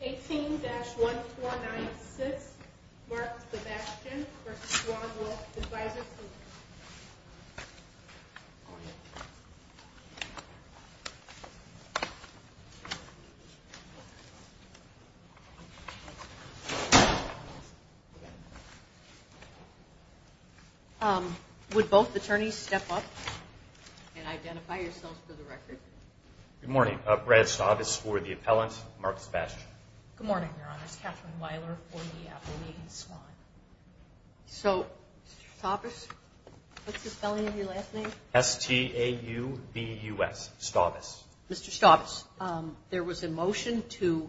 18-1496, Mark Sebastian v. Swan Wealth Advisors, Inc. Would both attorneys step up and identify yourselves for the record? Good morning. Brad Stavis for the appellant, Mark Sebastian. Good morning, Your Honor. It's Katherine Weiler for the appellant, Megan Swan. So, Mr. Stavis, what's the spelling of your last name? S-T-A-U-V-U-S, Stavis. Mr. Stavis, there was a motion to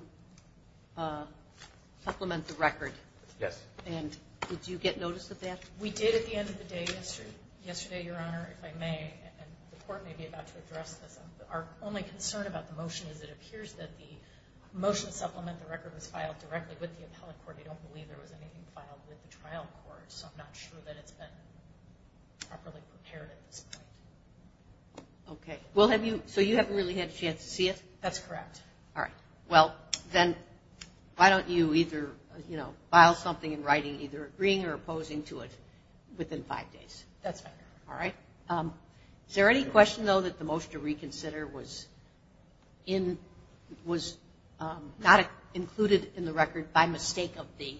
supplement the record. Yes. And did you get notice of that? We did at the end of the day yesterday, Your Honor, if I may. And the court may be about to address this. Our only concern about the motion is it appears that the motion to supplement the record was filed directly with the appellate court. We don't believe there was anything filed with the trial court, so I'm not sure that it's been properly prepared at this point. Okay. So you haven't really had a chance to see it? That's correct. All right. Well, then why don't you either file something in writing either agreeing or opposing to it within five days? That's fine. All right. Is there any question, though, that the motion to reconsider was not included in the record by mistake of the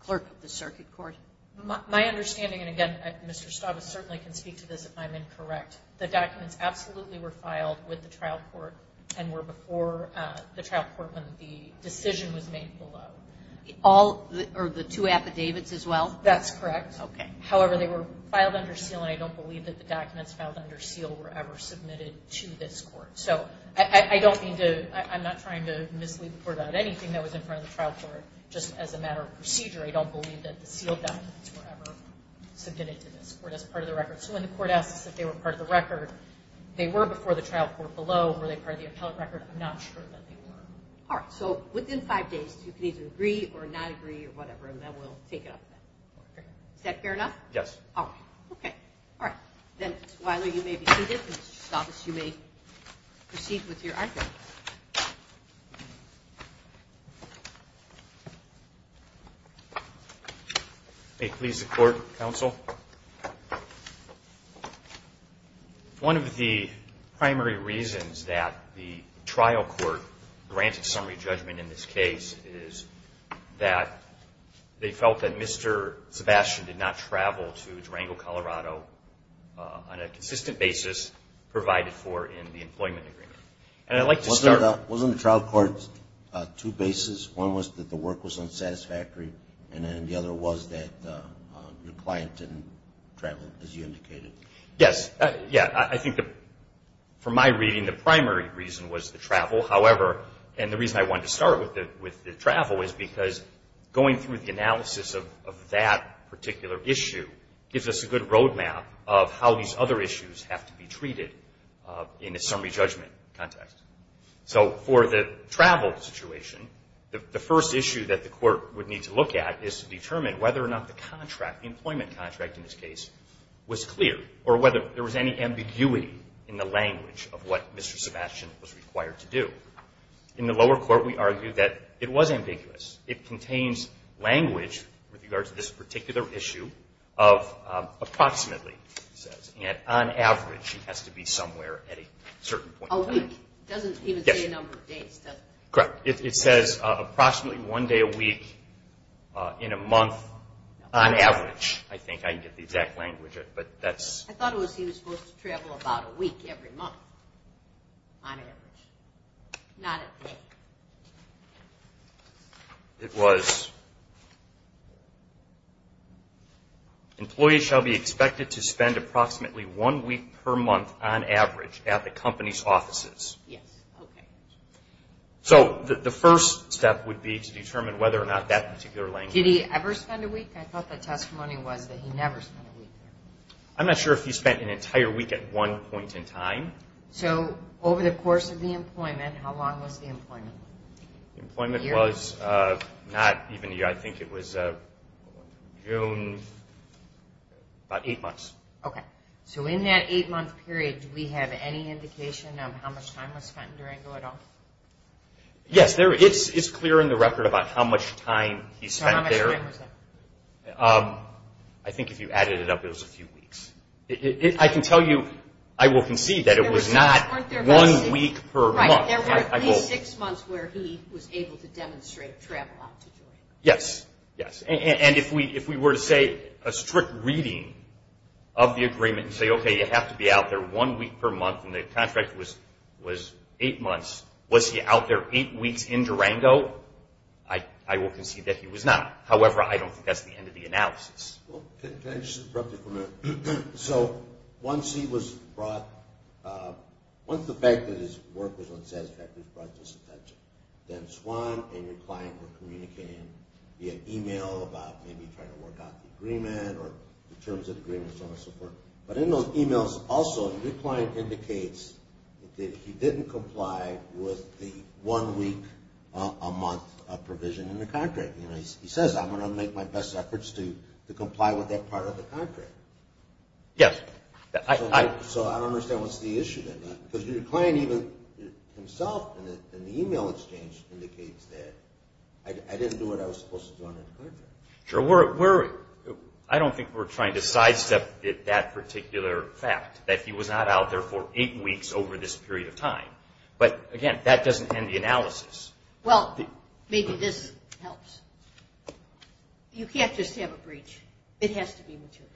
clerk of the circuit court? My understanding, and again, Mr. Stavis certainly can speak to this if I'm incorrect, the documents absolutely were filed with the trial court and were before the trial court when the decision was made below. All or the two affidavits as well? That's correct. Okay. However, they were filed under seal, and I don't believe that the documents filed under seal were ever submitted to this court. So I don't mean to – I'm not trying to mislead the court about anything that was in front of the trial court. Just as a matter of procedure, I don't believe that the sealed documents were ever submitted to this court as part of the record. So when the court asks us if they were part of the record, they were before the trial court below. Were they part of the appellate record? I'm not sure that they were. All right. So within five days, you can either agree or not agree or whatever, and then we'll take it up. Is that fair enough? Yes. All right. Okay. All right. Then, Wyler, you may be seated, and, Mr. Stavis, you may proceed with your arguments. May it please the Court, Counsel? One of the primary reasons that the trial court granted summary judgment in this case is that they felt that Mr. Sebastian did not travel to Durango, Colorado on a consistent basis provided for in the employment agreement. And I'd like to start – Wasn't the trial court two bases? One was that the work was unsatisfactory, and then the other was that your client didn't travel, as you indicated? Yes. Yeah. I think from my reading, the primary reason was the travel. However, and the reason I wanted to start with the travel is because going through the analysis of that particular issue gives us a good roadmap of how these other issues have to be treated in a summary judgment context. So for the travel situation, the first issue that the court would need to look at is to determine whether or not the employment contract in this case was clear or whether there was any ambiguity. In the lower court, we argue that it was ambiguous. It contains language with regards to this particular issue of approximately, it says, and on average, it has to be somewhere at a certain point in time. A week. It doesn't even say a number of days, does it? Correct. It says approximately one day a week in a month on average, I think. I can get the exact language, but that's – I thought it was he was supposed to travel about a week every month on average. Not a day. It was employees shall be expected to spend approximately one week per month on average at the company's offices. Yes. Okay. So the first step would be to determine whether or not that particular language. Did he ever spend a week? I thought the testimony was that he never spent a week there. I'm not sure if he spent an entire week at one point in time. So over the course of the employment, how long was the employment? The employment was not even a year. I think it was June, about eight months. Okay. So in that eight-month period, do we have any indication of how much time was spent in Durango at all? Yes. It's clear in the record about how much time he spent there. So how much time was there? I think if you added it up, it was a few weeks. I can tell you I will concede that it was not one week per month. Right. There were at least six months where he was able to demonstrate travel out to Durango. Yes. Yes. And if we were to say a strict reading of the agreement and say, okay, you have to be out there one week per month and the contract was eight months, was he out there eight weeks in Durango, I will concede that he was not. However, I don't think that's the end of the analysis. Can I just interrupt you for a minute? So once he was brought up, once the fact that his work was unsatisfactory brought this attention, then Swan and your client were communicating via e-mail about maybe trying to work out the agreement or the terms of the agreement and so on and so forth. But in those e-mails, also, your client indicates that he didn't comply with the one-week-a-month provision in the contract. He says, I'm going to make my best efforts to comply with that part of the contract. Yes. So I don't understand what's the issue then. Because your client even himself in the e-mail exchange indicates that, I didn't do what I was supposed to do under the contract. Sure. I don't think we're trying to sidestep that particular fact, that he was not out there for eight weeks over this period of time. But, again, that doesn't end the analysis. Well, maybe this helps. You can't just have a breach. It has to be material.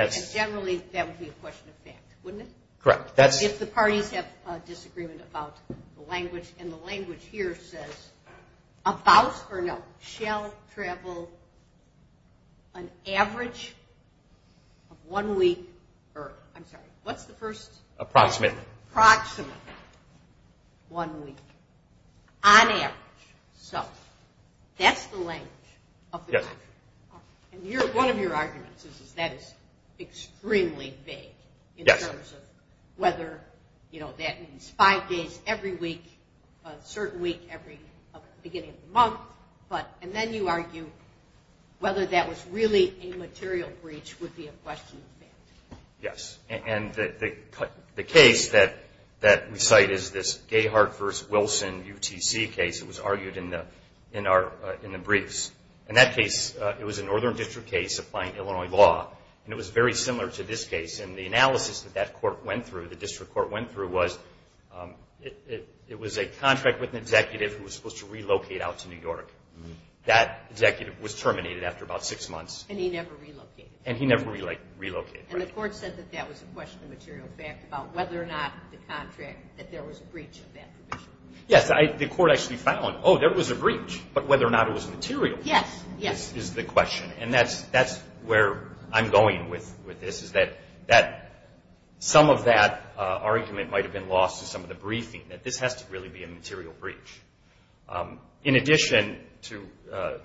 Yes. Generally, that would be a question of fact, wouldn't it? Correct. If the parties have a disagreement about the language, and the language here says, about or no, shall travel an average of one week or, I'm sorry, what's the first? Approximate. Approximate one week on average. So that's the language of the contract. Yes. And one of your arguments is that is extremely vague in terms of whether, you know, that means five days every week, a certain week every beginning of the month, and then you argue whether that was really a material breach would be a question of fact. Yes. And the case that we cite is this Gayhart v. Wilson UTC case. It was argued in the briefs. In that case, it was a northern district case applying Illinois law, and it was very similar to this case. And the analysis that that court went through, the district court went through, was it was a contract with an executive who was supposed to relocate out to New York. That executive was terminated after about six months. And he never relocated. And he never relocated. And the court said that that was a question of material fact about whether or not the contract, that there was a breach of that provision. Yes. The court actually found, oh, there was a breach, but whether or not it was material is the question. And that's where I'm going with this, is that some of that argument might have been lost to some of the briefing, that this has to really be a material breach. In addition to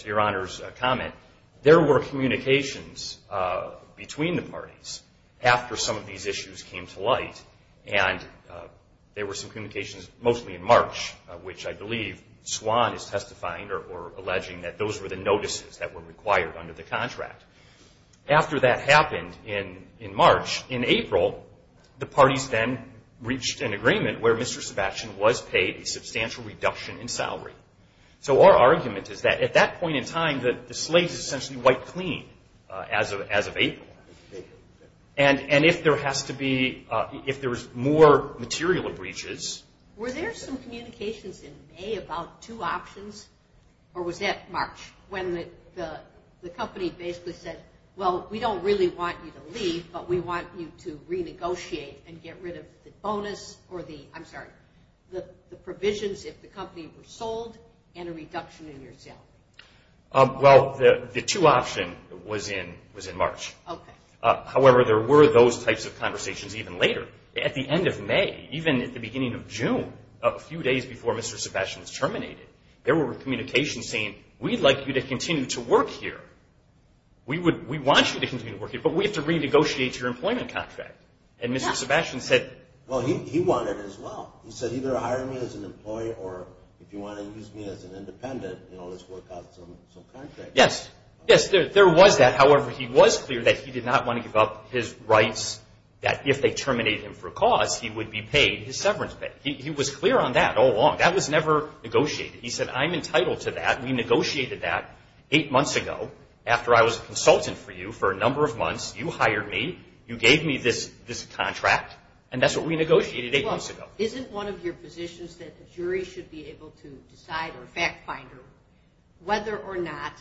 your Honor's comment, there were communications between the parties after some of these issues came to light, and there were some communications, mostly in March, which I believe Swan is testifying or alleging that those were the notices that were required under the contract. After that happened in March, in April, the parties then reached an agreement where Mr. Sebastian was paid a reduction in salary. So our argument is that at that point in time, the slate is essentially wiped clean as of April. And if there has to be, if there's more material breaches. Were there some communications in May about two options, or was that March, when the company basically said, well, we don't really want you to leave, but we want you to renegotiate and get rid of the bonus or the, I'm sorry, the provisions if the company was sold and a reduction in your salary? Well, the two option was in March. However, there were those types of conversations even later. At the end of May, even at the beginning of June, a few days before Mr. Sebastian's terminated, there were communications saying, we'd like you to continue to work here. We want you to continue to work here, but we have to renegotiate your employment contract. And Mr. Sebastian said, well, he wanted it as well. He said, either hire me as an employee, or if you want to use me as an independent, you know, let's work out some contract. Yes, yes, there was that. However, he was clear that he did not want to give up his rights, that if they terminated him for cause, he would be paid his severance pay. He was clear on that all along. That was never negotiated. He said, I'm entitled to that. We negotiated that eight months ago after I was a consultant for you for a number of months. You hired me. You gave me this contract, and that's what we negotiated eight months ago. Isn't one of your positions that the jury should be able to decide, or fact finder, whether or not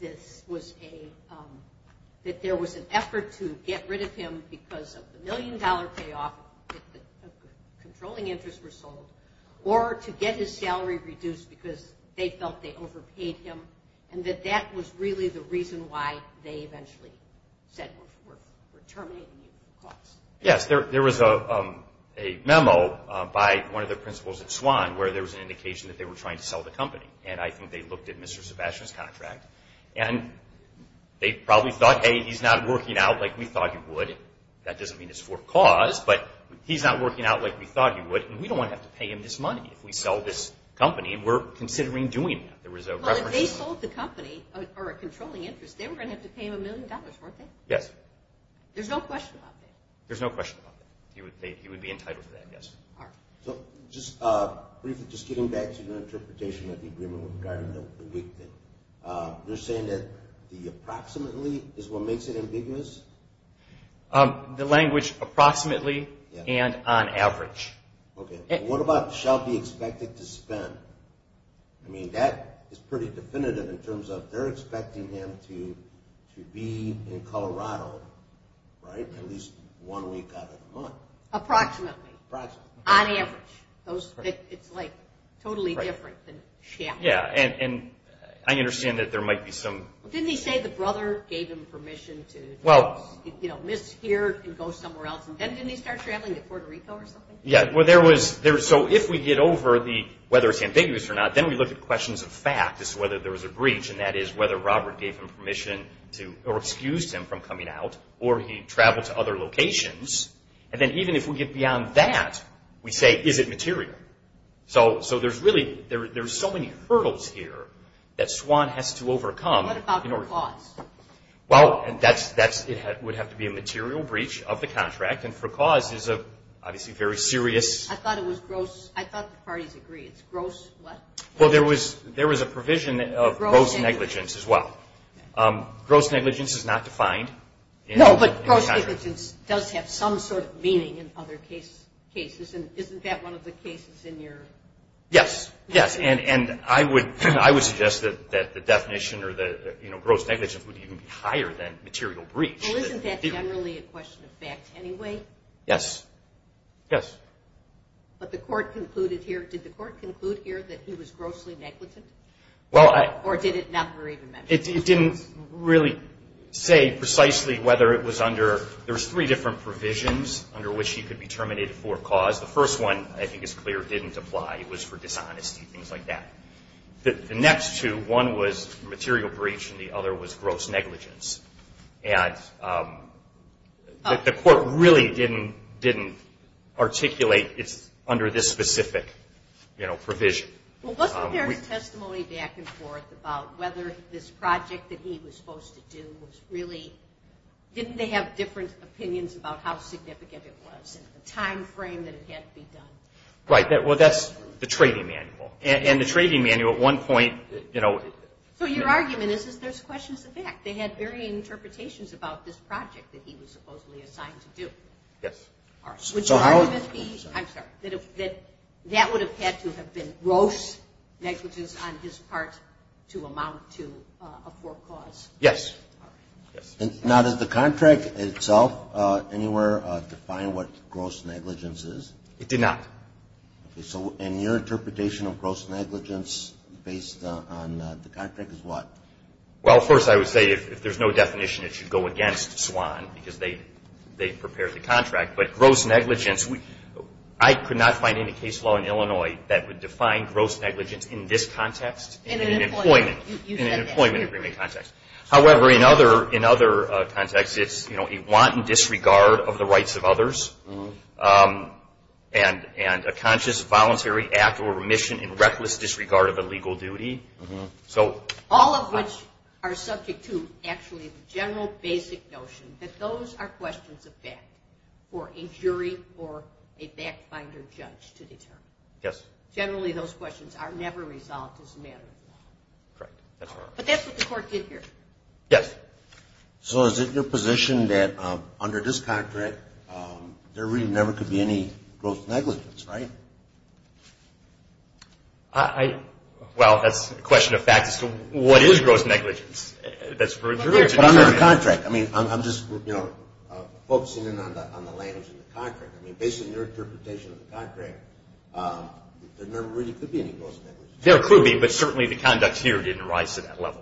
this was a – that there was an effort to get rid of him because of the million-dollar payoff, that the controlling interests were sold, or to get his salary reduced because they felt they overpaid him, and that that was really the reason why they eventually said we're terminating you for cause? Yes, there was a memo by one of the principals at SWAN where there was an indication that they were trying to sell the company, and I think they looked at Mr. Sebastian's contract, and they probably thought, hey, he's not working out like we thought he would. That doesn't mean it's for cause, but he's not working out like we thought he would, and we don't want to have to pay him this money if we sell this company, and we're considering doing that. Well, if they sold the company or a controlling interest, they were going to have to pay him a million dollars, weren't they? Yes. Okay. There's no question about that? There's no question about that. He would be entitled to that, yes. All right. So just briefly, just getting back to your interpretation of the agreement regarding the week thing, you're saying that the approximately is what makes it ambiguous? The language approximately and on average. Okay. What about shall be expected to spend? I mean, that is pretty definitive in terms of they're expecting him to be in Colorado, right, at least one week out of the month. Approximately. Approximately. On average. It's like totally different than shall be. Yeah, and I understand that there might be some. Didn't he say the brother gave him permission to, you know, miss here and go somewhere else, and then didn't he start traveling to Puerto Rico or something? Yeah, well, there was. So if we get over whether it's ambiguous or not, then we look at questions of fact as to whether there was a breach, and that is whether Robert gave him permission to or excused him from coming out or he traveled to other locations. And then even if we get beyond that, we say, is it material? So there's really so many hurdles here that Swan has to overcome. What about for cause? Well, that would have to be a material breach of the contract. And for cause is obviously very serious. I thought it was gross. I thought the parties agreed. It's gross what? Well, there was a provision of gross negligence as well. Gross negligence is not defined. No, but gross negligence does have some sort of meaning in other cases, and isn't that one of the cases in your? Yes, yes, and I would suggest that the definition or the, you know, gross negligence would even be higher than material breach. Well, isn't that generally a question of fact anyway? Yes. Yes. But the court concluded here, did the court conclude here that he was grossly negligent? Well, I. Or did it not? It didn't really say precisely whether it was under, there was three different provisions under which he could be terminated for cause. The first one, I think, is clear, didn't apply. It was for dishonesty, things like that. The next two, one was material breach and the other was gross negligence. And the court really didn't articulate it's under this specific, you know, provision. Well, wasn't there testimony back and forth about whether this project that he was supposed to do was really, didn't they have different opinions about how significant it was and the time frame that it had to be done? Right. Well, that's the trading manual. And the trading manual at one point, you know. So your argument is there's questions of fact. They had varying interpretations about this project that he was supposedly assigned to do. Yes. Would your argument be, I'm sorry, that that would have had to have been gross negligence on his part to amount to a forecause? Yes. All right. Now, does the contract itself anywhere define what gross negligence is? It did not. Okay. So in your interpretation of gross negligence based on the contract is what? Well, first I would say if there's no definition it should go against SWAN because they prepared the contract. But gross negligence, I could not find any case law in Illinois that would define gross negligence in this context. In an employment. In an employment agreement context. However, in other contexts it's, you know, a wanton disregard of the rights of others and a conscious, voluntary act or remission in reckless disregard of a legal duty. So. All of which are subject to actually the general basic notion that those are questions of fact for a jury or a back finder judge to determine. Yes. Generally those questions are never resolved as a matter of law. Correct. But that's what the court did here. Yes. So is it your position that under this contract there really never could be any gross negligence, right? Well, that's a question of fact as to what is gross negligence. That's for a jury to determine. Under the contract. I mean, I'm just, you know, focusing in on the language of the contract. I mean, based on your interpretation of the contract, there never really could be any gross negligence. There could be, but certainly the conduct here didn't rise to that level.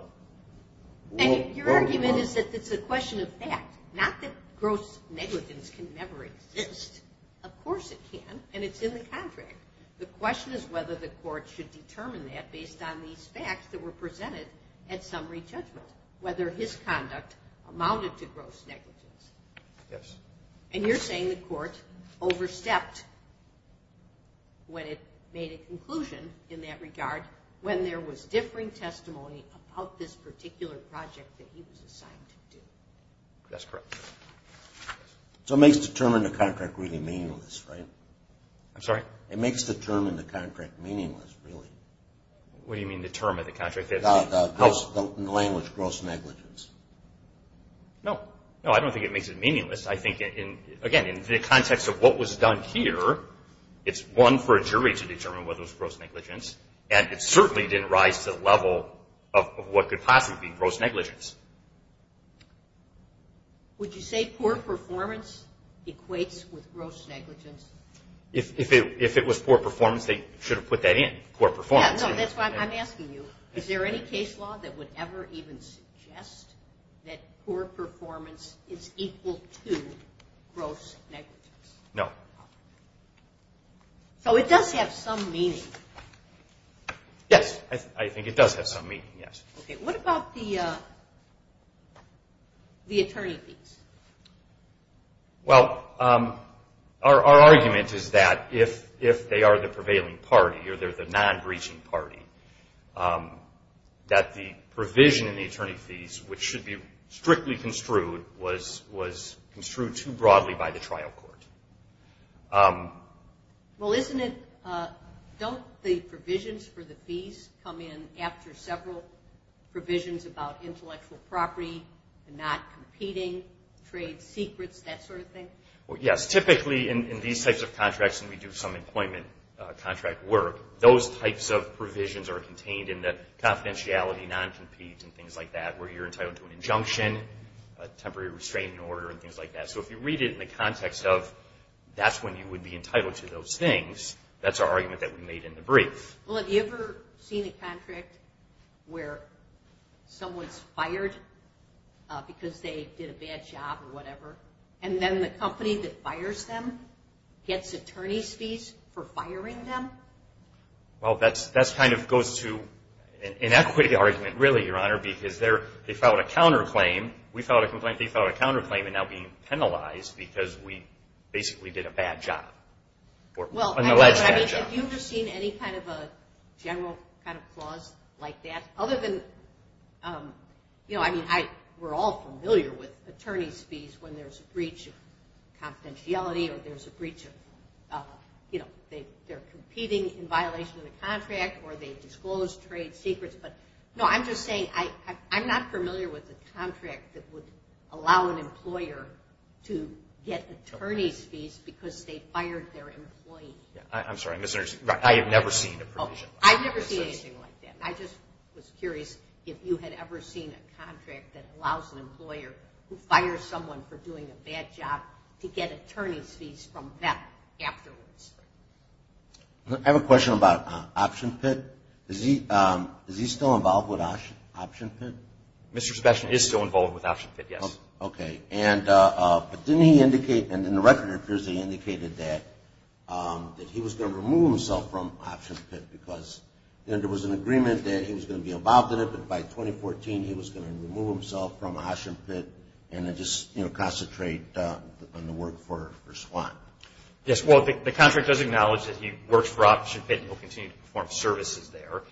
And your argument is that it's a question of fact. Not that gross negligence can never exist. Of course it can. And it's in the contract. The question is whether the court should determine that based on these facts that were presented at summary judgment, whether his conduct amounted to gross negligence. Yes. And you're saying the court overstepped when it made a conclusion in that regard when there was differing testimony about this particular project that he was assigned to do. That's correct. So it makes determining the contract really meaningless, right? I'm sorry? It makes determining the contract meaningless, really. What do you mean determining the contract? The language, gross negligence. No. No, I don't think it makes it meaningless. I think, again, in the context of what was done here, it's one for a jury to determine whether it was gross negligence. And it certainly didn't rise to the level of what could possibly be gross negligence. Would you say poor performance equates with gross negligence? If it was poor performance, they should have put that in, poor performance. No, that's why I'm asking you, is there any case law that would ever even suggest that poor performance is equal to gross negligence? No. So it does have some meaning. Yes, I think it does have some meaning, yes. Okay, what about the attorney fees? Well, our argument is that if they are the prevailing party or they're the non-breaching party, that the provision in the attorney fees, which should be strictly construed, was construed too broadly by the trial court. Well, isn't it, don't the provisions for the fees come in after several provisions about intellectual property, not competing, trade secrets, that sort of thing? Yes, typically in these types of contracts, and we do some employment contract work, those types of provisions are contained in the confidentiality, non-compete, and things like that, where you're entitled to an injunction, a temporary restraining order, and things like that. So if you read it in the context of, that's when you would be entitled to those things, that's our argument that we made in the brief. Well, have you ever seen a contract where someone's fired because they did a bad job or whatever, and then the company that fires them gets attorney's fees for firing them? Well, that kind of goes to an equity argument, really, Your Honor, because they filed a counterclaim. We filed a complaint, they filed a counterclaim, and now being penalized because we basically did a bad job. Well, I mean, have you ever seen any kind of a general kind of clause like that? Other than, you know, I mean, we're all familiar with attorney's fees when there's a breach of confidentiality or there's a breach of, you know, they're competing in violation of the contract, or they disclose trade secrets, but, no, I'm just saying, I'm not familiar with a contract that would allow an employer to get attorney's fees because they fired their employee. I'm sorry, I misunderstood. I have never seen a provision like that. I've never seen anything like that. I just was curious if you had ever seen a contract that allows an employer who fires someone for doing a bad job to get attorney's fees from them afterwards. I have a question about Option Pit. Is he still involved with Option Pit? Mr. Sebastian is still involved with Option Pit, yes. Okay. But didn't he indicate, and in the record appears he indicated that, that he was going to remove himself from Option Pit because there was an agreement that he was going to be involved in it, but by 2014 he was going to remove himself from Option Pit and then just, you know, concentrate on the work for SWAT. Yes, well, the contract does acknowledge that he works for Option Pit and will continue to perform services there.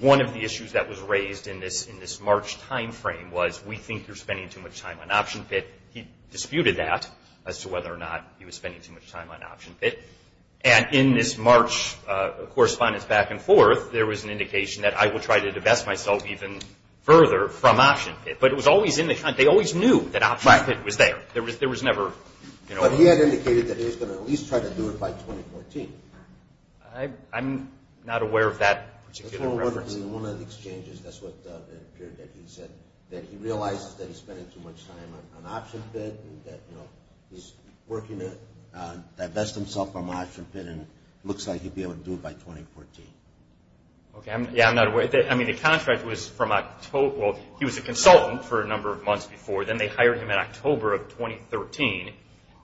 One of the issues that was raised in this March timeframe was, we think you're spending too much time on Option Pit. He disputed that as to whether or not he was spending too much time on Option Pit. And in this March correspondence back and forth, there was an indication that I will try to divest myself even further from Option Pit. But it was always in the contract. They always knew that Option Pit was there. There was never, you know. But he had indicated that he was going to at least try to do it by 2014. I'm not aware of that particular reference. One of the exchanges, that's what appeared that he said, that he realizes that he's spending too much time on Option Pit and that, you know, he's working to divest himself from Option Pit and it looks like he'd be able to do it by 2014. Okay. Yeah, I'm not aware. I mean, the contract was from October. He was a consultant for a number of months before. Then they hired him in October of 2013.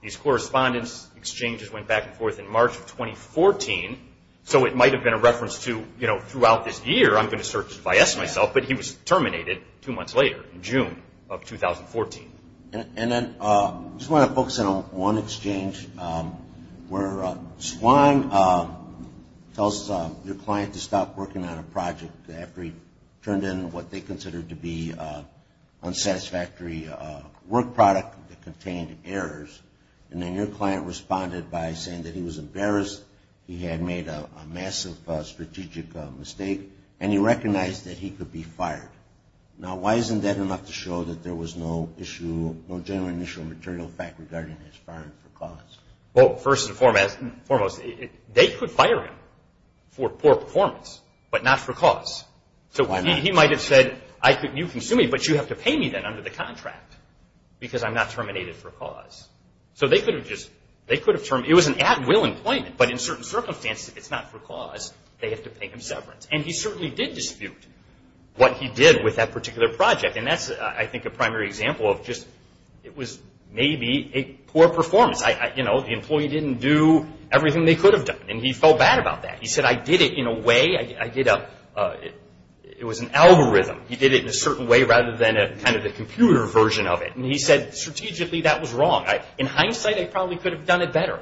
These correspondence exchanges went back and forth in March of 2014. So it might have been a reference to, you know, throughout this year, I'm going to search to divest myself. But he was terminated two months later in June of 2014. And then I just want to focus on one exchange where Swan tells your client to stop working on a project after he turned in what they considered to be And then your client responded by saying that he was embarrassed, he had made a massive strategic mistake, and he recognized that he could be fired. Now, why isn't that enough to show that there was no issue, no general initial material fact regarding his firing for cause? Well, first and foremost, they could fire him for poor performance, but not for cause. So he might have said, you can sue me, but you have to pay me then under the contract because I'm not terminated for cause. So they could have just, it was an at-will employment, but in certain circumstances, it's not for cause. They have to pay him severance. And he certainly did dispute what he did with that particular project. And that's, I think, a primary example of just, it was maybe a poor performance. You know, the employee didn't do everything they could have done, and he felt bad about that. He said, I did it in a way, it was an algorithm. He did it in a certain way rather than kind of the computer version of it. And he said, strategically, that was wrong. In hindsight, I probably could have done it better.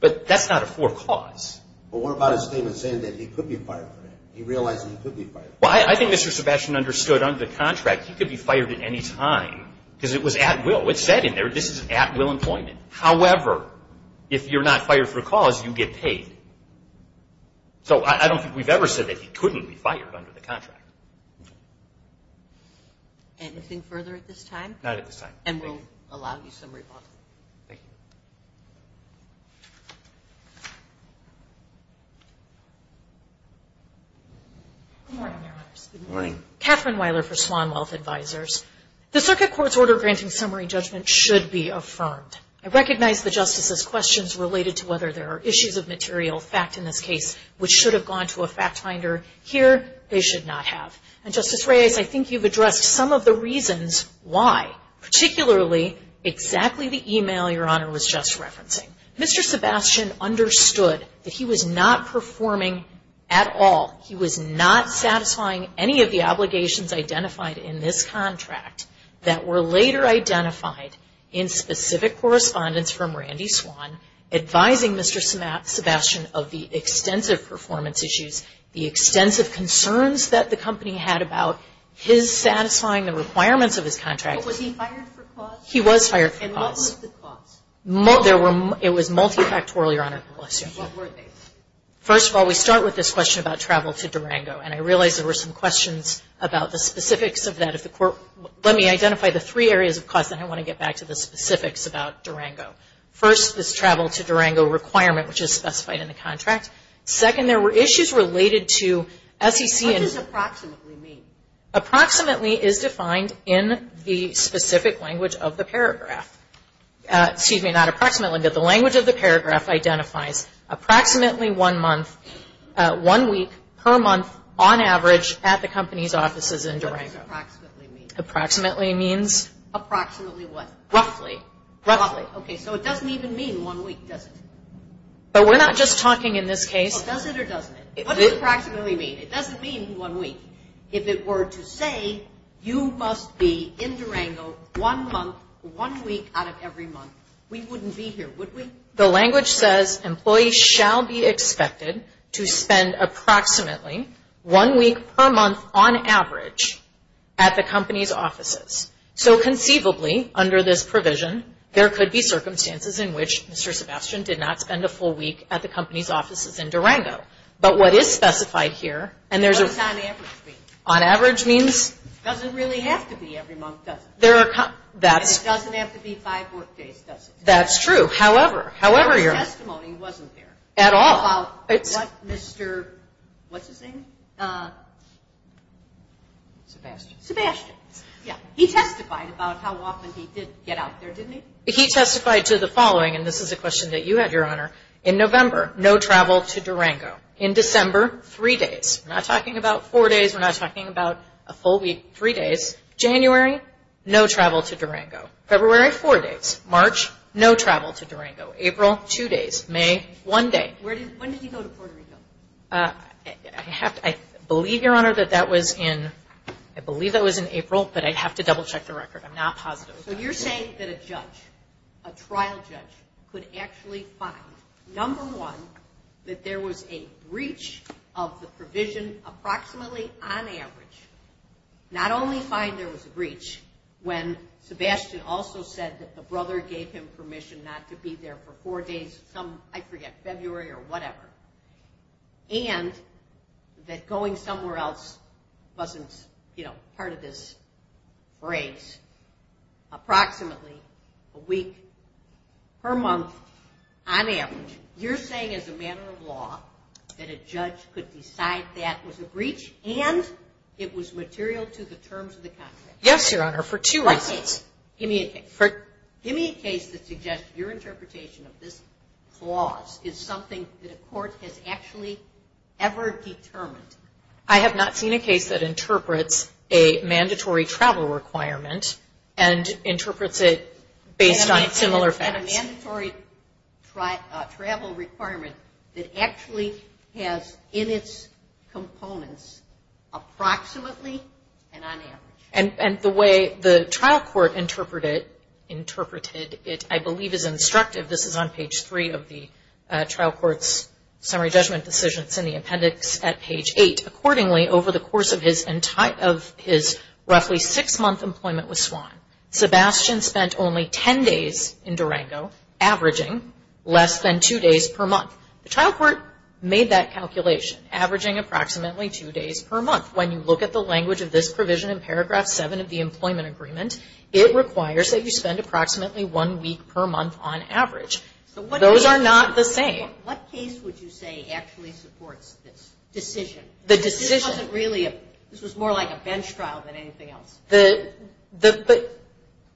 But that's not a for cause. But what about his statement saying that he could be fired for it? He realized that he could be fired for it. Well, I think Mr. Sebastian understood under the contract he could be fired at any time because it was at-will. It said in there this is at-will employment. However, if you're not fired for a cause, you get paid. So I don't think we've ever said that he couldn't be fired under the contract. Anything further at this time? Not at this time. Thank you. And we'll allow you some rebuttal. Thank you. Good morning, Your Honors. Good morning. Catherine Weiler for Swan Wealth Advisors. The circuit court's order granting summary judgment should be affirmed. I recognize the Justice's questions related to whether there are issues of material fact in this case, which should have gone to a fact finder. Here, they should not have. And, Justice Reyes, I think you've addressed some of the reasons why, particularly exactly the email Your Honor was just referencing. Mr. Sebastian understood that he was not performing at all. He was not satisfying any of the obligations identified in this contract that were later identified in specific correspondence from Randy Swan advising Mr. Sebastian of the extensive performance issues, the extensive concerns that the company had about his satisfying the requirements of his contract. But was he fired for cause? He was fired for cause. And what was the cause? It was multifactorial, Your Honor. What were they? First of all, we start with this question about travel to Durango, and I realize there were some questions about the specifics of that. Let me identify the three areas of cause, then I want to get back to the specifics about Durango. First, this travel to Durango requirement, which is specified in the contract. Second, there were issues related to SEC. What does approximately mean? Approximately is defined in the specific language of the paragraph. Excuse me, not approximately, but the language of the paragraph identifies approximately one month, one week per month on average at the company's offices in Durango. What does approximately mean? Approximately means? Approximately what? Roughly. Roughly. Okay, so it doesn't even mean one week, does it? But we're not just talking in this case. Well, does it or doesn't it? What does approximately mean? It doesn't mean one week. If it were to say you must be in Durango one month, one week out of every month, we wouldn't be here, would we? The language says employees shall be expected to spend approximately one week per month on average at the company's offices. So conceivably, under this provision, there could be circumstances in which Mr. Sebastian did not spend a full week at the company's offices in Durango. But what is specified here, and there's a… What does on average mean? On average means? It doesn't really have to be every month, does it? And it doesn't have to be five workdays, does it? That's true. However, your… Our testimony wasn't there. At all. About what Mr., what's his name? Sebastian. Sebastian, yeah. He testified about how often he did get out there, didn't he? He testified to the following, and this is a question that you had, Your Honor. In November, no travel to Durango. In December, three days. We're not talking about four days. We're not talking about a full week, three days. January, no travel to Durango. February, four days. March, no travel to Durango. April, two days. May, one day. When did he go to Puerto Rico? I have to… I believe, Your Honor, that that was in… I believe that was in April, but I'd have to double check the record. I'm not positive. So you're saying that a judge, a trial judge, could actually find, number one, that there was a breach of the provision approximately on average. Not only find there was a breach, when Sebastian also said that the brother gave him permission not to be there for four days, some, I forget, February or whatever, and that going somewhere else wasn't, you know, part of this race, approximately a week per month on average. You're saying, as a matter of law, that a judge could decide that was a breach and it was material to the terms of the contract. Yes, Your Honor, for two reasons. Give me a case. Give me a case that suggests your interpretation of this clause is something that a court has actually ever determined. I have not seen a case that interprets a mandatory travel requirement and interprets it based on similar facts. A mandatory travel requirement that actually has in its components approximately and on average. And the way the trial court interpreted it, I believe is instructive. This is on page three of the trial court's summary judgment decision. It's in the appendix at page eight. Accordingly, over the course of his roughly six-month employment with SWAN, Sebastian spent only ten days in Durango, averaging less than two days per month. The trial court made that calculation, averaging approximately two days per month. When you look at the language of this provision in paragraph seven of the employment agreement, it requires that you spend approximately one week per month on average. Those are not the same. What case would you say actually supports this decision? The decision. This wasn't really a, this was more like a bench trial than anything else. But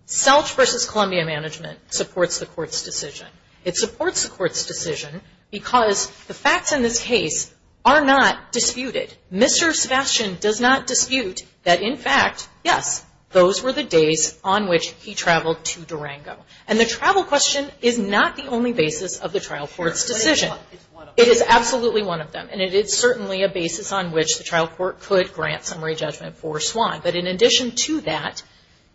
SELCH versus Columbia Management supports the court's decision. It supports the court's decision because the facts in this case are not disputed. Mr. Sebastian does not dispute that, in fact, yes, those were the days on which he traveled to Durango. And the travel question is not the only basis of the trial court's decision. It is absolutely one of them. And it is certainly a basis on which the trial court could grant summary judgment for SWAN. But in addition to that,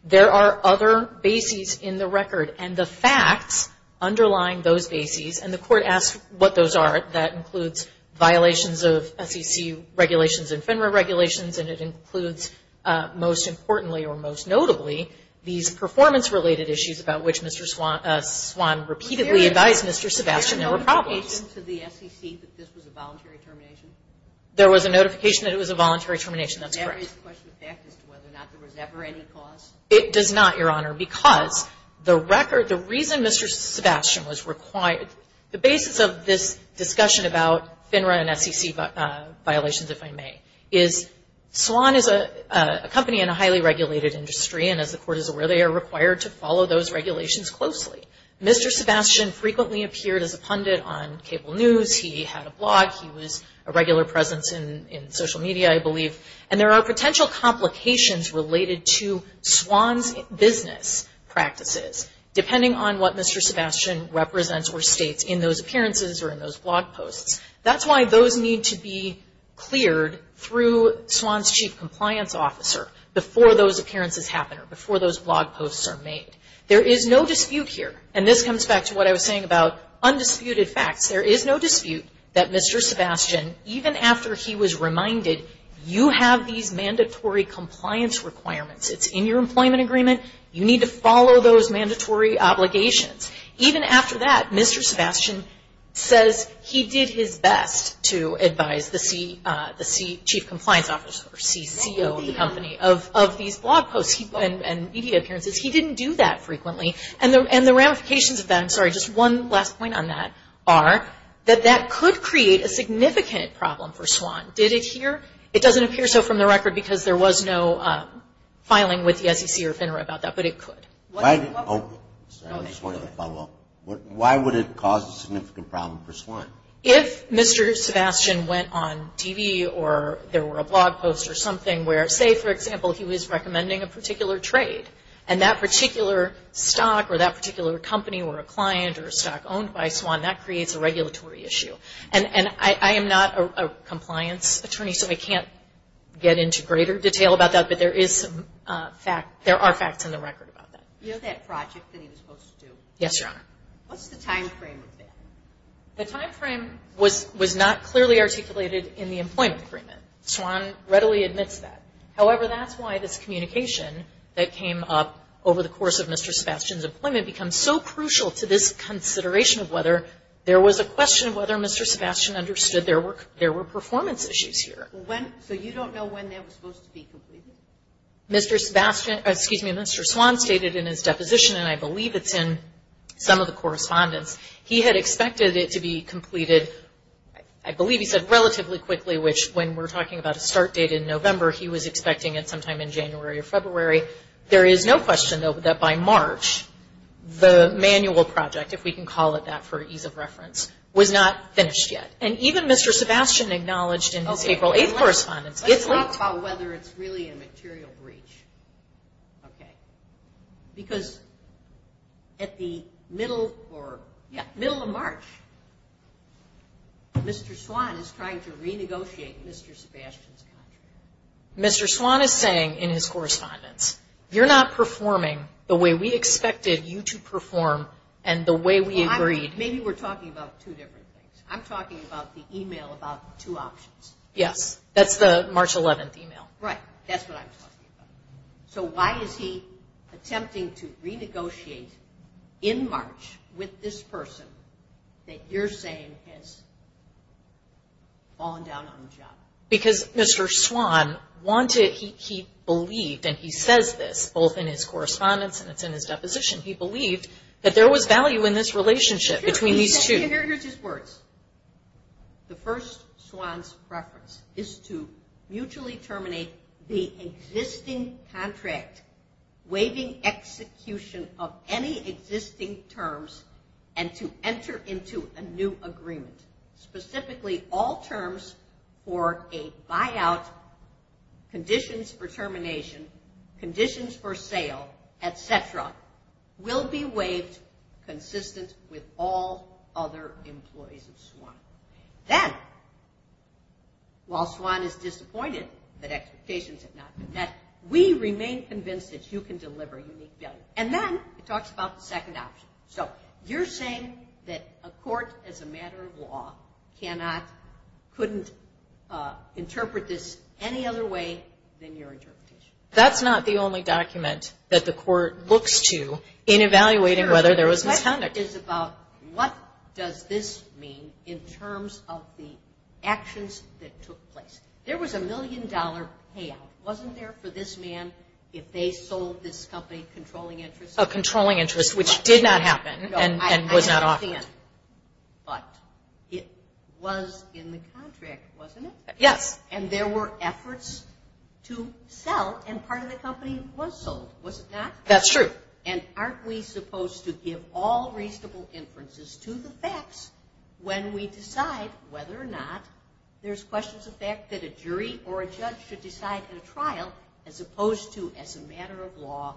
there are other bases in the record. And the facts underlying those bases, and the court asked what those are. That includes violations of SEC regulations and FINRA regulations. And it includes, most importantly or most notably, these performance-related issues about which Mr. SWAN repeatedly advised Mr. Sebastian there were problems. Was there a notification to the SEC that this was a voluntary termination? There was a notification that it was a voluntary termination. That's correct. Does that raise the question of fact as to whether or not there was ever any cause? It does not, Your Honor, because the record, the reason Mr. Sebastian was required the basis of this discussion about FINRA and SEC violations, if I may, is SWAN is a company in a highly regulated industry, and as the court is aware, they are required to follow those regulations closely. Mr. Sebastian frequently appeared as a pundit on cable news. He had a blog. He was a regular presence in social media, I believe. And there are potential complications related to SWAN's business practices, depending on what Mr. Sebastian represents or states in those appearances or in those blog posts. That's why those need to be cleared through SWAN's chief compliance officer before those appearances happen or before those blog posts are made. There is no dispute here, and this comes back to what I was saying about undisputed facts. There is no dispute that Mr. Sebastian, even after he was reminded, you have these mandatory compliance requirements. It's in your employment agreement. You need to follow those mandatory obligations. Even after that, Mr. Sebastian says he did his best to advise the chief compliance officer or CCO of the company of these blog posts and media appearances. He didn't do that frequently. And the ramifications of that, I'm sorry, just one last point on that, are that that could create a significant problem for SWAN. Did it here? It doesn't appear so from the record because there was no filing with the SEC or FINRA about that, but it could. Why would it cause a significant problem for SWAN? If Mr. Sebastian went on TV or there were a blog post or something where, say, for example, he was recommending a particular trade, and that particular stock or that particular company or a client or a stock owned by SWAN, that creates a regulatory issue. And I am not a compliance attorney, so I can't get into greater detail about that, but there are facts in the record about that. You know that project that he was supposed to do? Yes, Your Honor. What's the timeframe of that? The timeframe was not clearly articulated in the employment agreement. SWAN readily admits that. However, that's why this communication that came up over the course of Mr. Sebastian's employment becomes so crucial to this consideration of whether there was a question of whether Mr. Sebastian understood there were performance issues here. So you don't know when that was supposed to be completed? Mr. Swan stated in his deposition, and I believe it's in some of the correspondence, he had expected it to be completed, I believe he said relatively quickly, which when we're talking about a start date in November, he was expecting it sometime in January or February. There is no question, though, that by March, the manual project, if we can call it that for ease of reference, was not finished yet. And even Mr. Sebastian acknowledged in his April 8th correspondence. Let's talk about whether it's really a material breach, okay? Because at the middle of March, Mr. Swan is trying to renegotiate Mr. Sebastian's contract. Mr. Swan is saying in his correspondence, you're not performing the way we expected you to perform and the way we agreed. Maybe we're talking about two different things. I'm talking about the email about two options. Yes, that's the March 11th email. Right, that's what I'm talking about. So why is he attempting to renegotiate in March with this person that you're saying has fallen down on the job? Because Mr. Swan wanted, he believed, and he says this, both in his correspondence and it's in his deposition, he believed that there was value in this relationship between these two. Here's his words. The first, Swan's preference, is to mutually terminate the existing contract, waiving execution of any existing terms and to enter into a new agreement. Specifically, all terms for a buyout, conditions for termination, conditions for sale, et cetera, will be waived consistent with all other employees of Swan. Then, while Swan is disappointed that expectations have not been met, we remain convinced that you can deliver unique value. And then he talks about the second option. So you're saying that a court, as a matter of law, cannot, couldn't interpret this any other way than your interpretation. That's not the only document that the court looks to in evaluating whether there was misconduct. My question is about what does this mean in terms of the actions that took place? There was a million-dollar payout, wasn't there, for this man, if they sold this company controlling interest? A controlling interest, which did not happen and was not offered. No, I understand. But it was in the contract, wasn't it? Yes. And there were efforts to sell, and part of the company was sold, was it not? That's true. And aren't we supposed to give all reasonable inferences to the facts when we decide whether or not there's questions of the fact that a jury or a judge should decide in a trial, as opposed to as a matter of law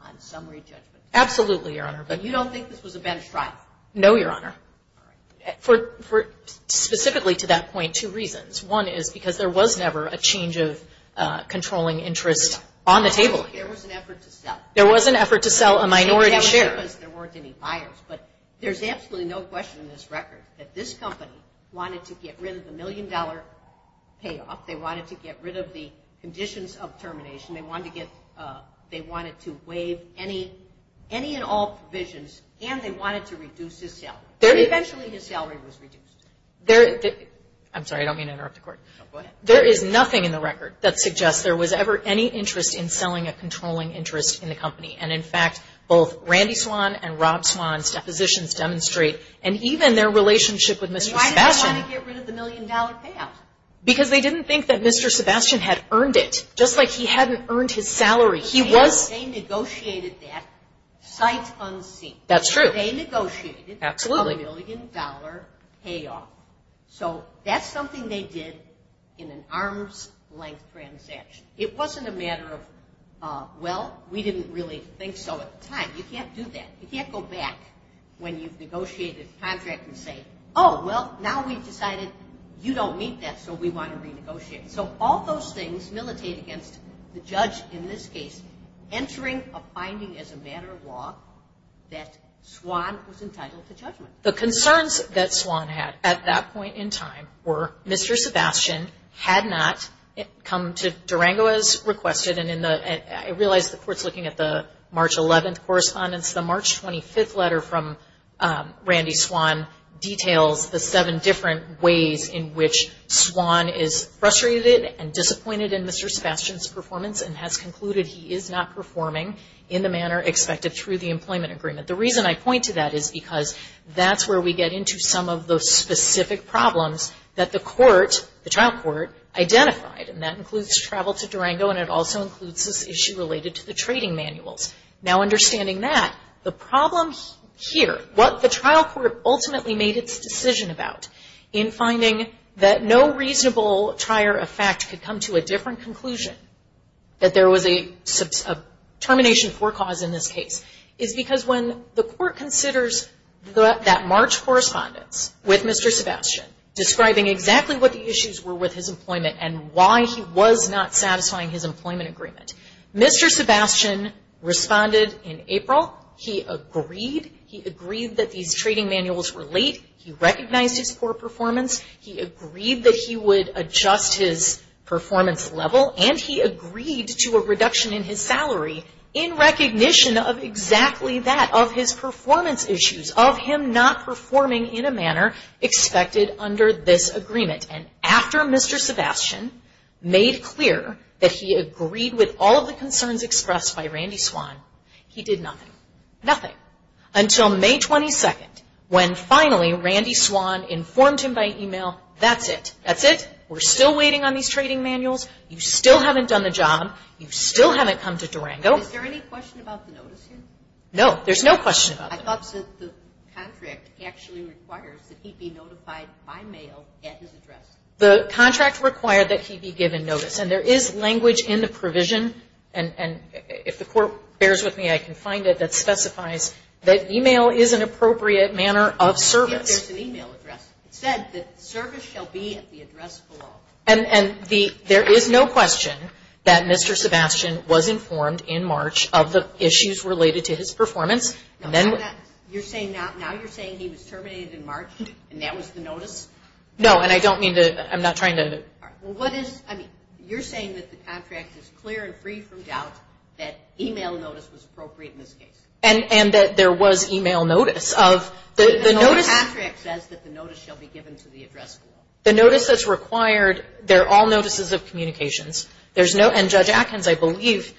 on summary judgment? Absolutely, Your Honor. But you don't think this was a bench trial? No, Your Honor. All right. Specifically to that point, two reasons. One is because there was never a change of controlling interest on the table. There was an effort to sell. There was an effort to sell a minority share. There weren't any buyers, but there's absolutely no question in this record that this company wanted to get rid of the million-dollar payout, they wanted to get rid of the conditions of termination, they wanted to waive any and all provisions, and they wanted to reduce his salary. Eventually his salary was reduced. I'm sorry. I don't mean to interrupt the Court. No, go ahead. There is nothing in the record that suggests there was ever any interest in selling a controlling interest in the company. And, in fact, both Randy Swan and Rob Swan's depositions demonstrate, and even their relationship with Mr. Sebastian. But why did they want to get rid of the million-dollar payout? Because they didn't think that Mr. Sebastian had earned it, just like he hadn't earned his salary. They negotiated that sight unseen. That's true. They negotiated a million-dollar payout. So that's something they did in an arm's-length transaction. It wasn't a matter of, well, we didn't really think so at the time. You can't do that. You can't go back when you've negotiated a contract and say, oh, well, now we've decided you don't meet that, so we want to renegotiate. So all those things militate against the judge, in this case, entering a finding as a matter of law that Swan was entitled to judgment. The concerns that Swan had at that point in time were Mr. Sebastian had not come to Durango as requested, and I realize the Court's looking at the March 11th correspondence. The March 25th letter from Randy Swan details the seven different ways in which Swan is frustrated and disappointed in Mr. Sebastian's performance and has concluded he is not performing in the manner expected through the employment agreement. The reason I point to that is because that's where we get into some of the specific problems that the trial court identified, and that includes travel to Durango, and it also includes this issue related to the trading manuals. Now, understanding that, the problem here, what the trial court ultimately made its decision about in finding that no reasonable trier of fact could come to a different conclusion, that there was a termination for cause in this case, is because when the Court considers that March correspondence with Mr. Sebastian describing exactly what the issues were with his employment and why he was not satisfying his employment agreement, Mr. Sebastian responded in April. He agreed. He agreed that these trading manuals were late. He recognized his poor performance. He agreed that he would adjust his performance level, and he agreed to a reduction in his salary in recognition of exactly that, of his performance issues, of him not performing in a manner expected under this agreement. And after Mr. Sebastian made clear that he agreed with all of the concerns expressed by Randy Swan, he did nothing. Nothing. Until May 22nd, when finally Randy Swan informed him by e-mail, that's it. That's it. We're still waiting on these trading manuals. You still haven't done the job. You still haven't come to Durango. Is there any question about the notice here? No. There's no question about it. I thought the contract actually requires that he be notified by mail at his address. The contract required that he be given notice, and there is language in the provision, and if the Court bears with me, I can find it, that specifies that e-mail is an appropriate manner of service. There's an e-mail address. It said that service shall be at the address below. And there is no question that Mr. Sebastian was informed in March of the issues related to his performance. Now you're saying he was terminated in March, and that was the notice? No, and I don't mean to – I'm not trying to – Well, what is – I mean, you're saying that the contract is clear and free from doubt that e-mail notice was appropriate in this case. And that there was e-mail notice of the notice. But the contract says that the notice shall be given to the address below. The notice that's required, they're all notices of communications. There's no – and Judge Atkins, I believe,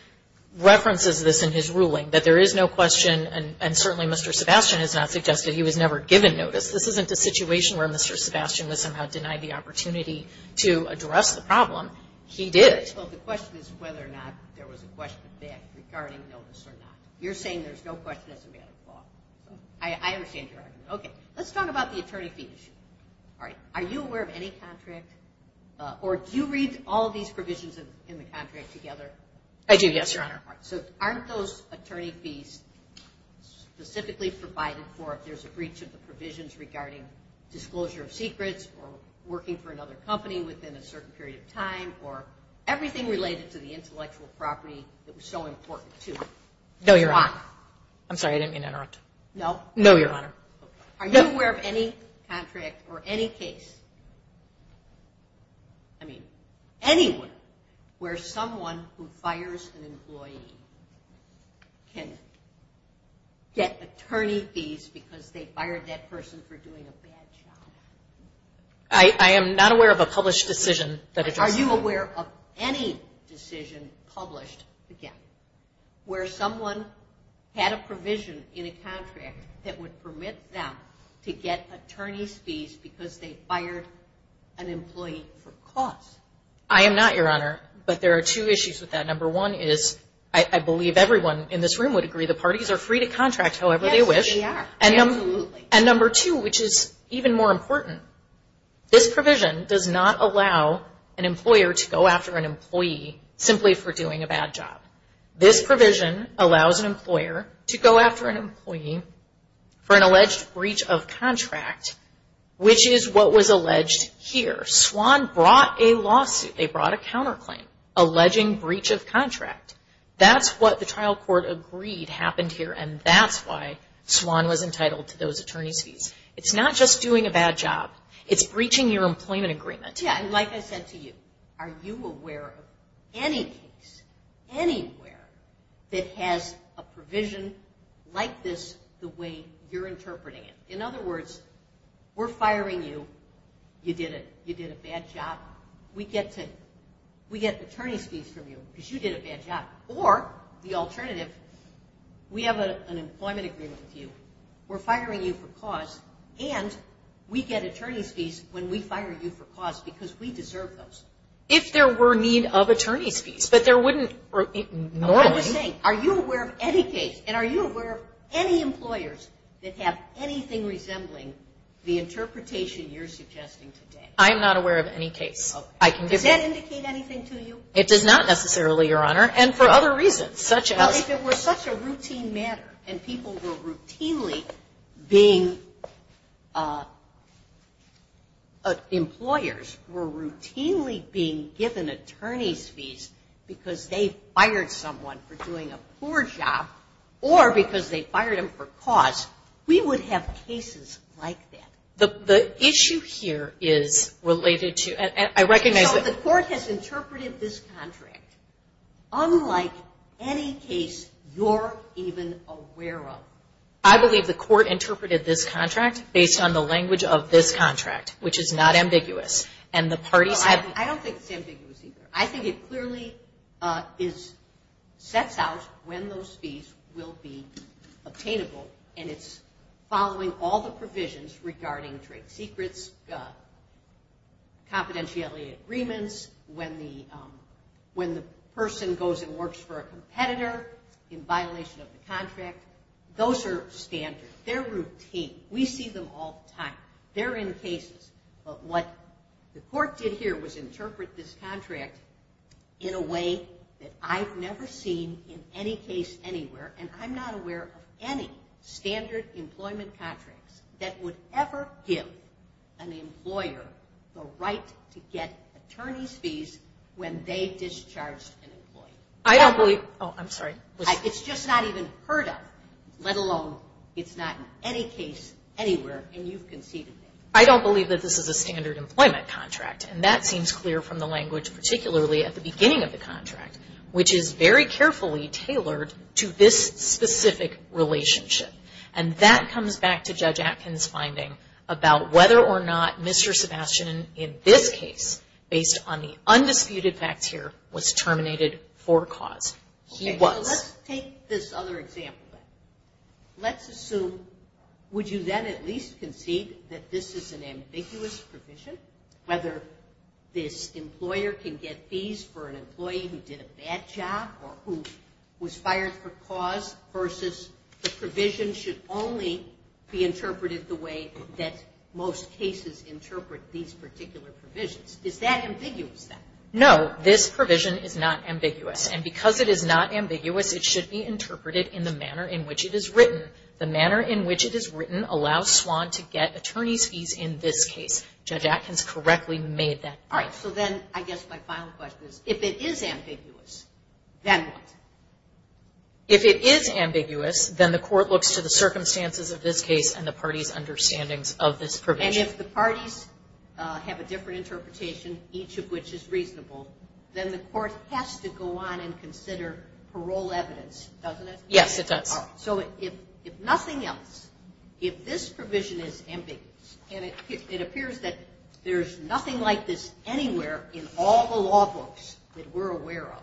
references this in his ruling, that there is no question, and certainly Mr. Sebastian has not suggested he was never given notice. This isn't a situation where Mr. Sebastian was somehow denied the opportunity to address the problem. He did. Well, the question is whether or not there was a question of fact regarding notice or not. You're saying there's no question as a matter of law. I understand your argument. Okay. Let's talk about the attorney fee issue. All right. Are you aware of any contract? Or do you read all of these provisions in the contract together? I do, yes, Your Honor. All right. So aren't those attorney fees specifically provided for if there's a breach of the company within a certain period of time or everything related to the intellectual property that was so important to it? No, Your Honor. Why? I'm sorry. I didn't mean to interrupt. No? No, Your Honor. Okay. Are you aware of any contract or any case, I mean, anywhere where someone who fires an employee can get attorney fees because they fired that person for doing a bad job? I am not aware of a published decision that addresses that. Are you aware of any decision published, again, where someone had a provision in a contract that would permit them to get attorney fees because they fired an employee for cause? I am not, Your Honor. But there are two issues with that. Number one is, I believe everyone in this room would agree, the parties are free to contract however they wish. Yes, they are. Absolutely. And number two, which is even more important, this provision does not allow an employer to go after an employee simply for doing a bad job. This provision allows an employer to go after an employee for an alleged breach of contract, which is what was alleged here. SWAN brought a lawsuit. They brought a counterclaim alleging breach of contract. That's what the trial court agreed happened here, and that's why SWAN was entitled to those attorney's fees. It's not just doing a bad job. It's breaching your employment agreement. Yes, and like I said to you, are you aware of any case, anywhere that has a provision like this the way you're interpreting it? In other words, we're firing you. You did a bad job. We get attorney's fees from you because you did a bad job. Or the alternative, we have an employment agreement with you. We're firing you for cause, and we get attorney's fees when we fire you for cause because we deserve those. If there were need of attorney's fees, but there wouldn't normally. I'm just saying, are you aware of any case, and are you aware of any employers that have anything resembling the interpretation you're suggesting today? I'm not aware of any case. Does that indicate anything to you? It does not necessarily, Your Honor. And for other reasons, such as? Well, if it were such a routine matter, and people were routinely being employers, were routinely being given attorney's fees because they fired someone for doing a poor job, or because they fired them for cause, we would have cases like that. The issue here is related to, and I recognize that. But the court has interpreted this contract unlike any case you're even aware of. I believe the court interpreted this contract based on the language of this contract, which is not ambiguous. I don't think it's ambiguous either. I think it clearly sets out when those fees will be obtainable, and it's following all the provisions regarding trade secrets, confidentiality agreements, when the person goes and works for a competitor in violation of the contract. Those are standard. They're routine. We see them all the time. They're in cases. But what the court did here was interpret this contract in a way that I've never seen in any case anywhere, and I'm not aware of any standard employment contracts that would ever give an employer the right to get attorney's fees when they discharged an employee. I don't believe. Oh, I'm sorry. It's just not even heard of, let alone it's not in any case anywhere, and you've conceded that. I don't believe that this is a standard employment contract, and that seems clear from the language, particularly at the beginning of the contract, which is very carefully tailored to this specific relationship. And that comes back to Judge Atkin's finding about whether or not Mr. Sebastian, in this case, based on the undisputed facts here, was terminated for cause. He was. Okay, so let's take this other example. Let's assume, would you then at least concede that this is an ambiguous provision, whether this employer can get fees for an employee who did a bad job or who was fired for cause versus the provision should only be interpreted the way that most cases interpret these particular provisions? Is that ambiguous then? No, this provision is not ambiguous, and because it is not ambiguous, it should be interpreted in the manner in which it is written. The manner in which it is written allows SWAN to get attorney's fees in this case. Judge Atkin's correctly made that point. So then I guess my final question is, if it is ambiguous, then what? If it is ambiguous, then the court looks to the circumstances of this case and the party's understandings of this provision. And if the parties have a different interpretation, each of which is reasonable, then the court has to go on and consider parole evidence, doesn't it? Yes, it does. So if nothing else, if this provision is ambiguous, and it appears that there's nothing like this anywhere in all the law books that we're aware of,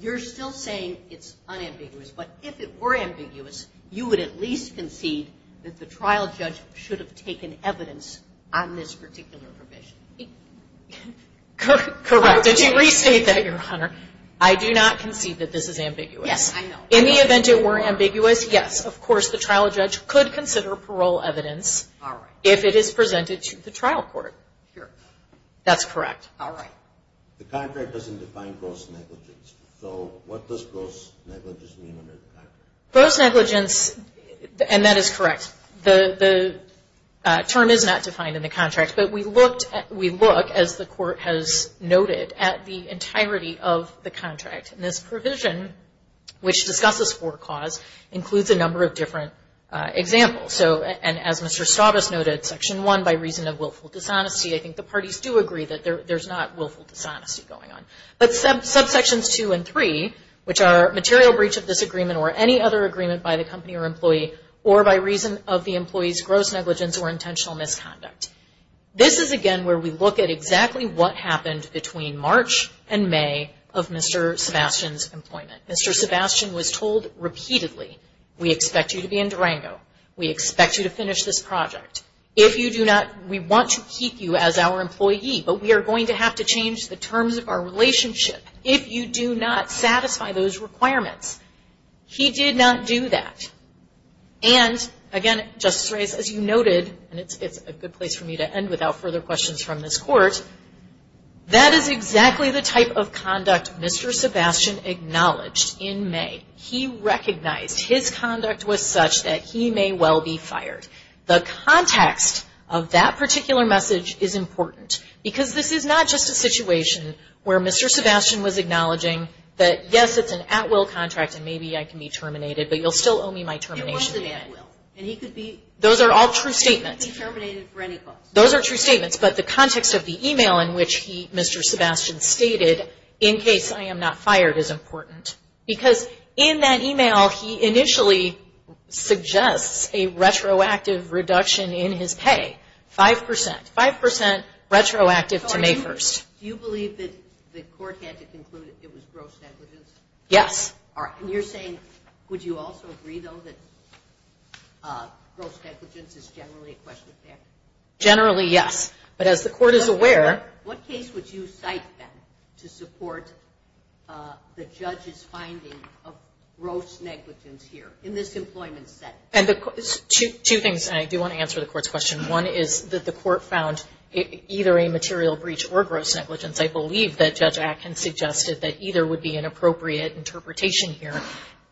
you're still saying it's unambiguous. But if it were ambiguous, you would at least concede that the trial judge should have taken evidence on this particular provision. Correct. Did you restate that, Your Honor? I do not concede that this is ambiguous. Yes, I know. In the event it were ambiguous, yes, of course, the trial judge could consider parole evidence. All right. If it is presented to the trial court. Sure. That's correct. All right. The contract doesn't define gross negligence. So what does gross negligence mean under the contract? Gross negligence, and that is correct, the term is not defined in the contract. But we looked, as the court has noted, at the entirety of the contract. And this provision, which discusses for cause, includes a number of different examples. So, and as Mr. Stavros noted, Section 1, by reason of willful dishonesty, I think the parties do agree that there's not willful dishonesty going on. But subsections 2 and 3, which are material breach of this agreement or any other agreement by the company or employee, or by reason of the employee's gross negligence or intentional misconduct. This is, again, where we look at exactly what happened between March and May of Mr. Sebastian's employment. Mr. Sebastian was told repeatedly, we expect you to be in Durango, we expect you to finish this project. If you do not, we want to keep you as our employee, but we are going to have to change the terms of our relationship if you do not satisfy those requirements. He did not do that. And, again, Justice Reyes, as you noted, and it's a good place for me to end without further questions from this court, that is exactly the type of conduct Mr. Sebastian acknowledged in May. He recognized his conduct was such that he may well be fired. The context of that particular message is important, because this is not just a situation where Mr. Sebastian was acknowledging that, yes, it's an at-will contract and maybe I can be terminated, but you'll still owe me my termination. Those are all true statements. Those are true statements, but the context of the email in which Mr. Sebastian stated, in case I am not fired, is important. Because in that email, he initially suggests a retroactive reduction in his pay, 5%, 5% retroactive to May 1st. Do you believe that the court had to conclude it was gross negligence? Yes. And you're saying, would you also agree, though, that gross negligence is generally a question of fairness? Generally, yes. But as the court is aware- What case would you cite, then, to support the judge's finding of gross negligence here in this employment setting? Two things, and I do want to answer the court's question. One is that the court found either a material breach or gross negligence. I believe that Judge Atkins suggested that either would be an appropriate interpretation here.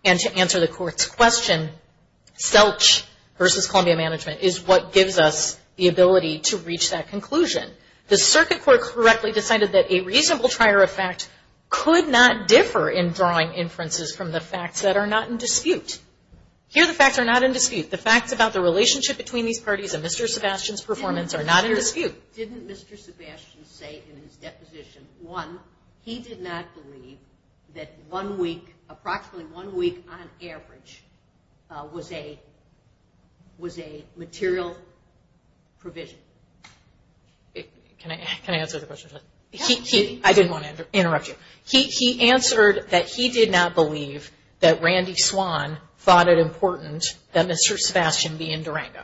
And to answer the court's question, Selch versus Columbia Management is what gives us the ability to reach that conclusion. The circuit court correctly decided that a reasonable trier of fact could not differ in drawing inferences from the facts that are not in dispute. Here, the facts are not in dispute. The facts about the relationship between these parties and Mr. Sebastian's performance are not in dispute. Didn't Mr. Sebastian say in his deposition, one, he did not believe that one week, approximately one week on average, was a material provision? Can I answer the question? I didn't want to interrupt you. He answered that he did not believe that Randy Swan thought it important that Mr. Sebastian be in Durango.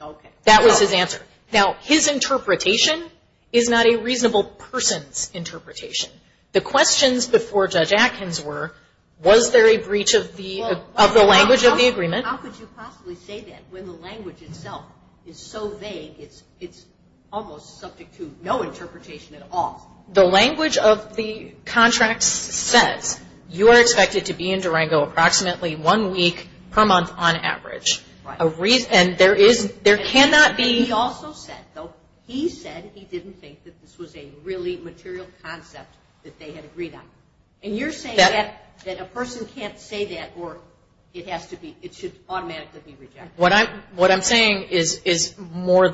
Okay. That was his answer. Now, his interpretation is not a reasonable person's interpretation. The questions before Judge Atkins were, was there a breach of the language of the agreement? How could you possibly say that when the language itself is so vague, it's almost subject to no interpretation at all? The language of the contract says, you are expected to be in Durango approximately one week per month on average. And there cannot be. He also said, though, he said he didn't think that this was a really material concept that they had agreed on. And you're saying that a person can't say that or it has to be, it should automatically be rejected. What I'm saying is more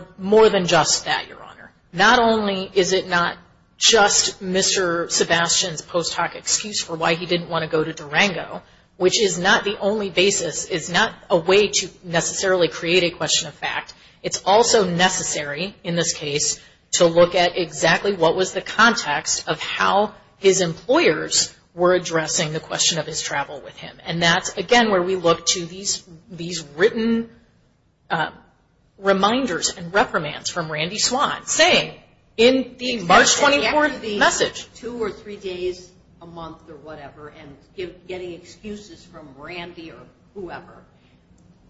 than just that, Your Honor. Not only is it not just Mr. Sebastian's post hoc excuse for why he didn't want to go to Durango, which is not the only basis is not a way to necessarily create a question of fact. It's also necessary in this case to look at exactly what was the context of how his employers were addressing the question of his travel with him. And that's, again, where we look to these written reminders and reprimands from Randy Swan saying in the March 24th message. Two or three days a month or whatever, and getting excuses from Randy or whoever.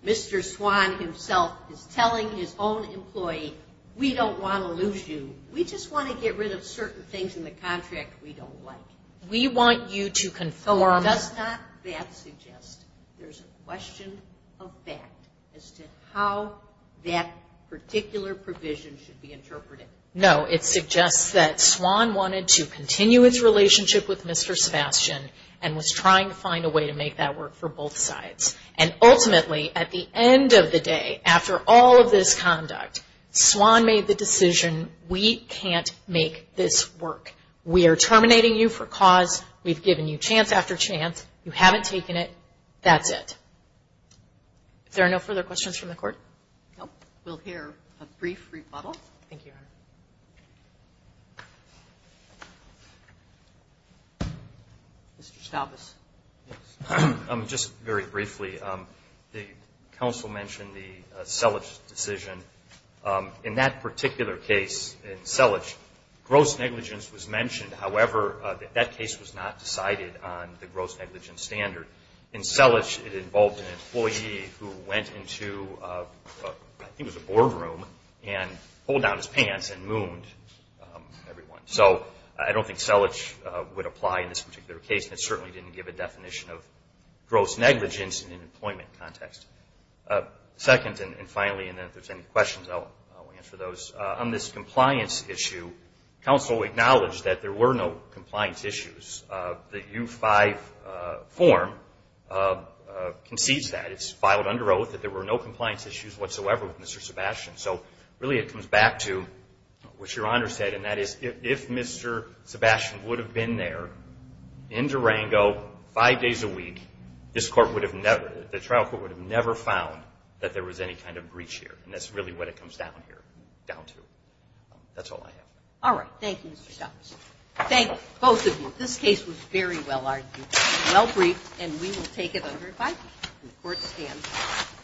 Mr. Swan himself is telling his own employee, we don't want to lose you. We just want to get rid of certain things in the contract we don't like. We want you to conform. Does not that suggest there's a question of fact as to how that particular provision should be interpreted? No. It suggests that Swan wanted to continue its relationship with Mr. Sebastian and was trying to find a way to make that work for both sides. And ultimately at the end of the day, after all of this conduct, Swan made the decision we can't make this work. We are terminating you for cause. We've given you chance after chance. You haven't taken it. That's it. If there are no further questions from the Court? Nope. We'll hear a brief rebuttal. Thank you, Your Honor. Mr. Stavis. Just very briefly, the counsel mentioned the Selich decision. In that particular case, in Selich, gross negligence was mentioned. However, that case was not decided on the gross negligence standard. In Selich, it involved an employee who went into, I think it was a boardroom, and pulled down his pants and mooned everyone. So I don't think Selich would apply in this particular case, and it certainly didn't give a definition of gross negligence in an employment context. Second, and finally, and if there's any questions, I'll answer those. On this compliance issue, counsel acknowledged that there were no compliance issues. The U-5 form concedes that. It's filed under oath that there were no compliance issues whatsoever with Selich. Really, it comes back to what Your Honor said, and that is if Mr. Sebastian would have been there in Durango five days a week, the trial court would have never found that there was any kind of breach here, and that's really what it comes down to. That's all I have. All right. Thank you, Mr. Stavis. Thank both of you. This case was very well-argued, well-briefed, and we will take it under five days when the Court stands.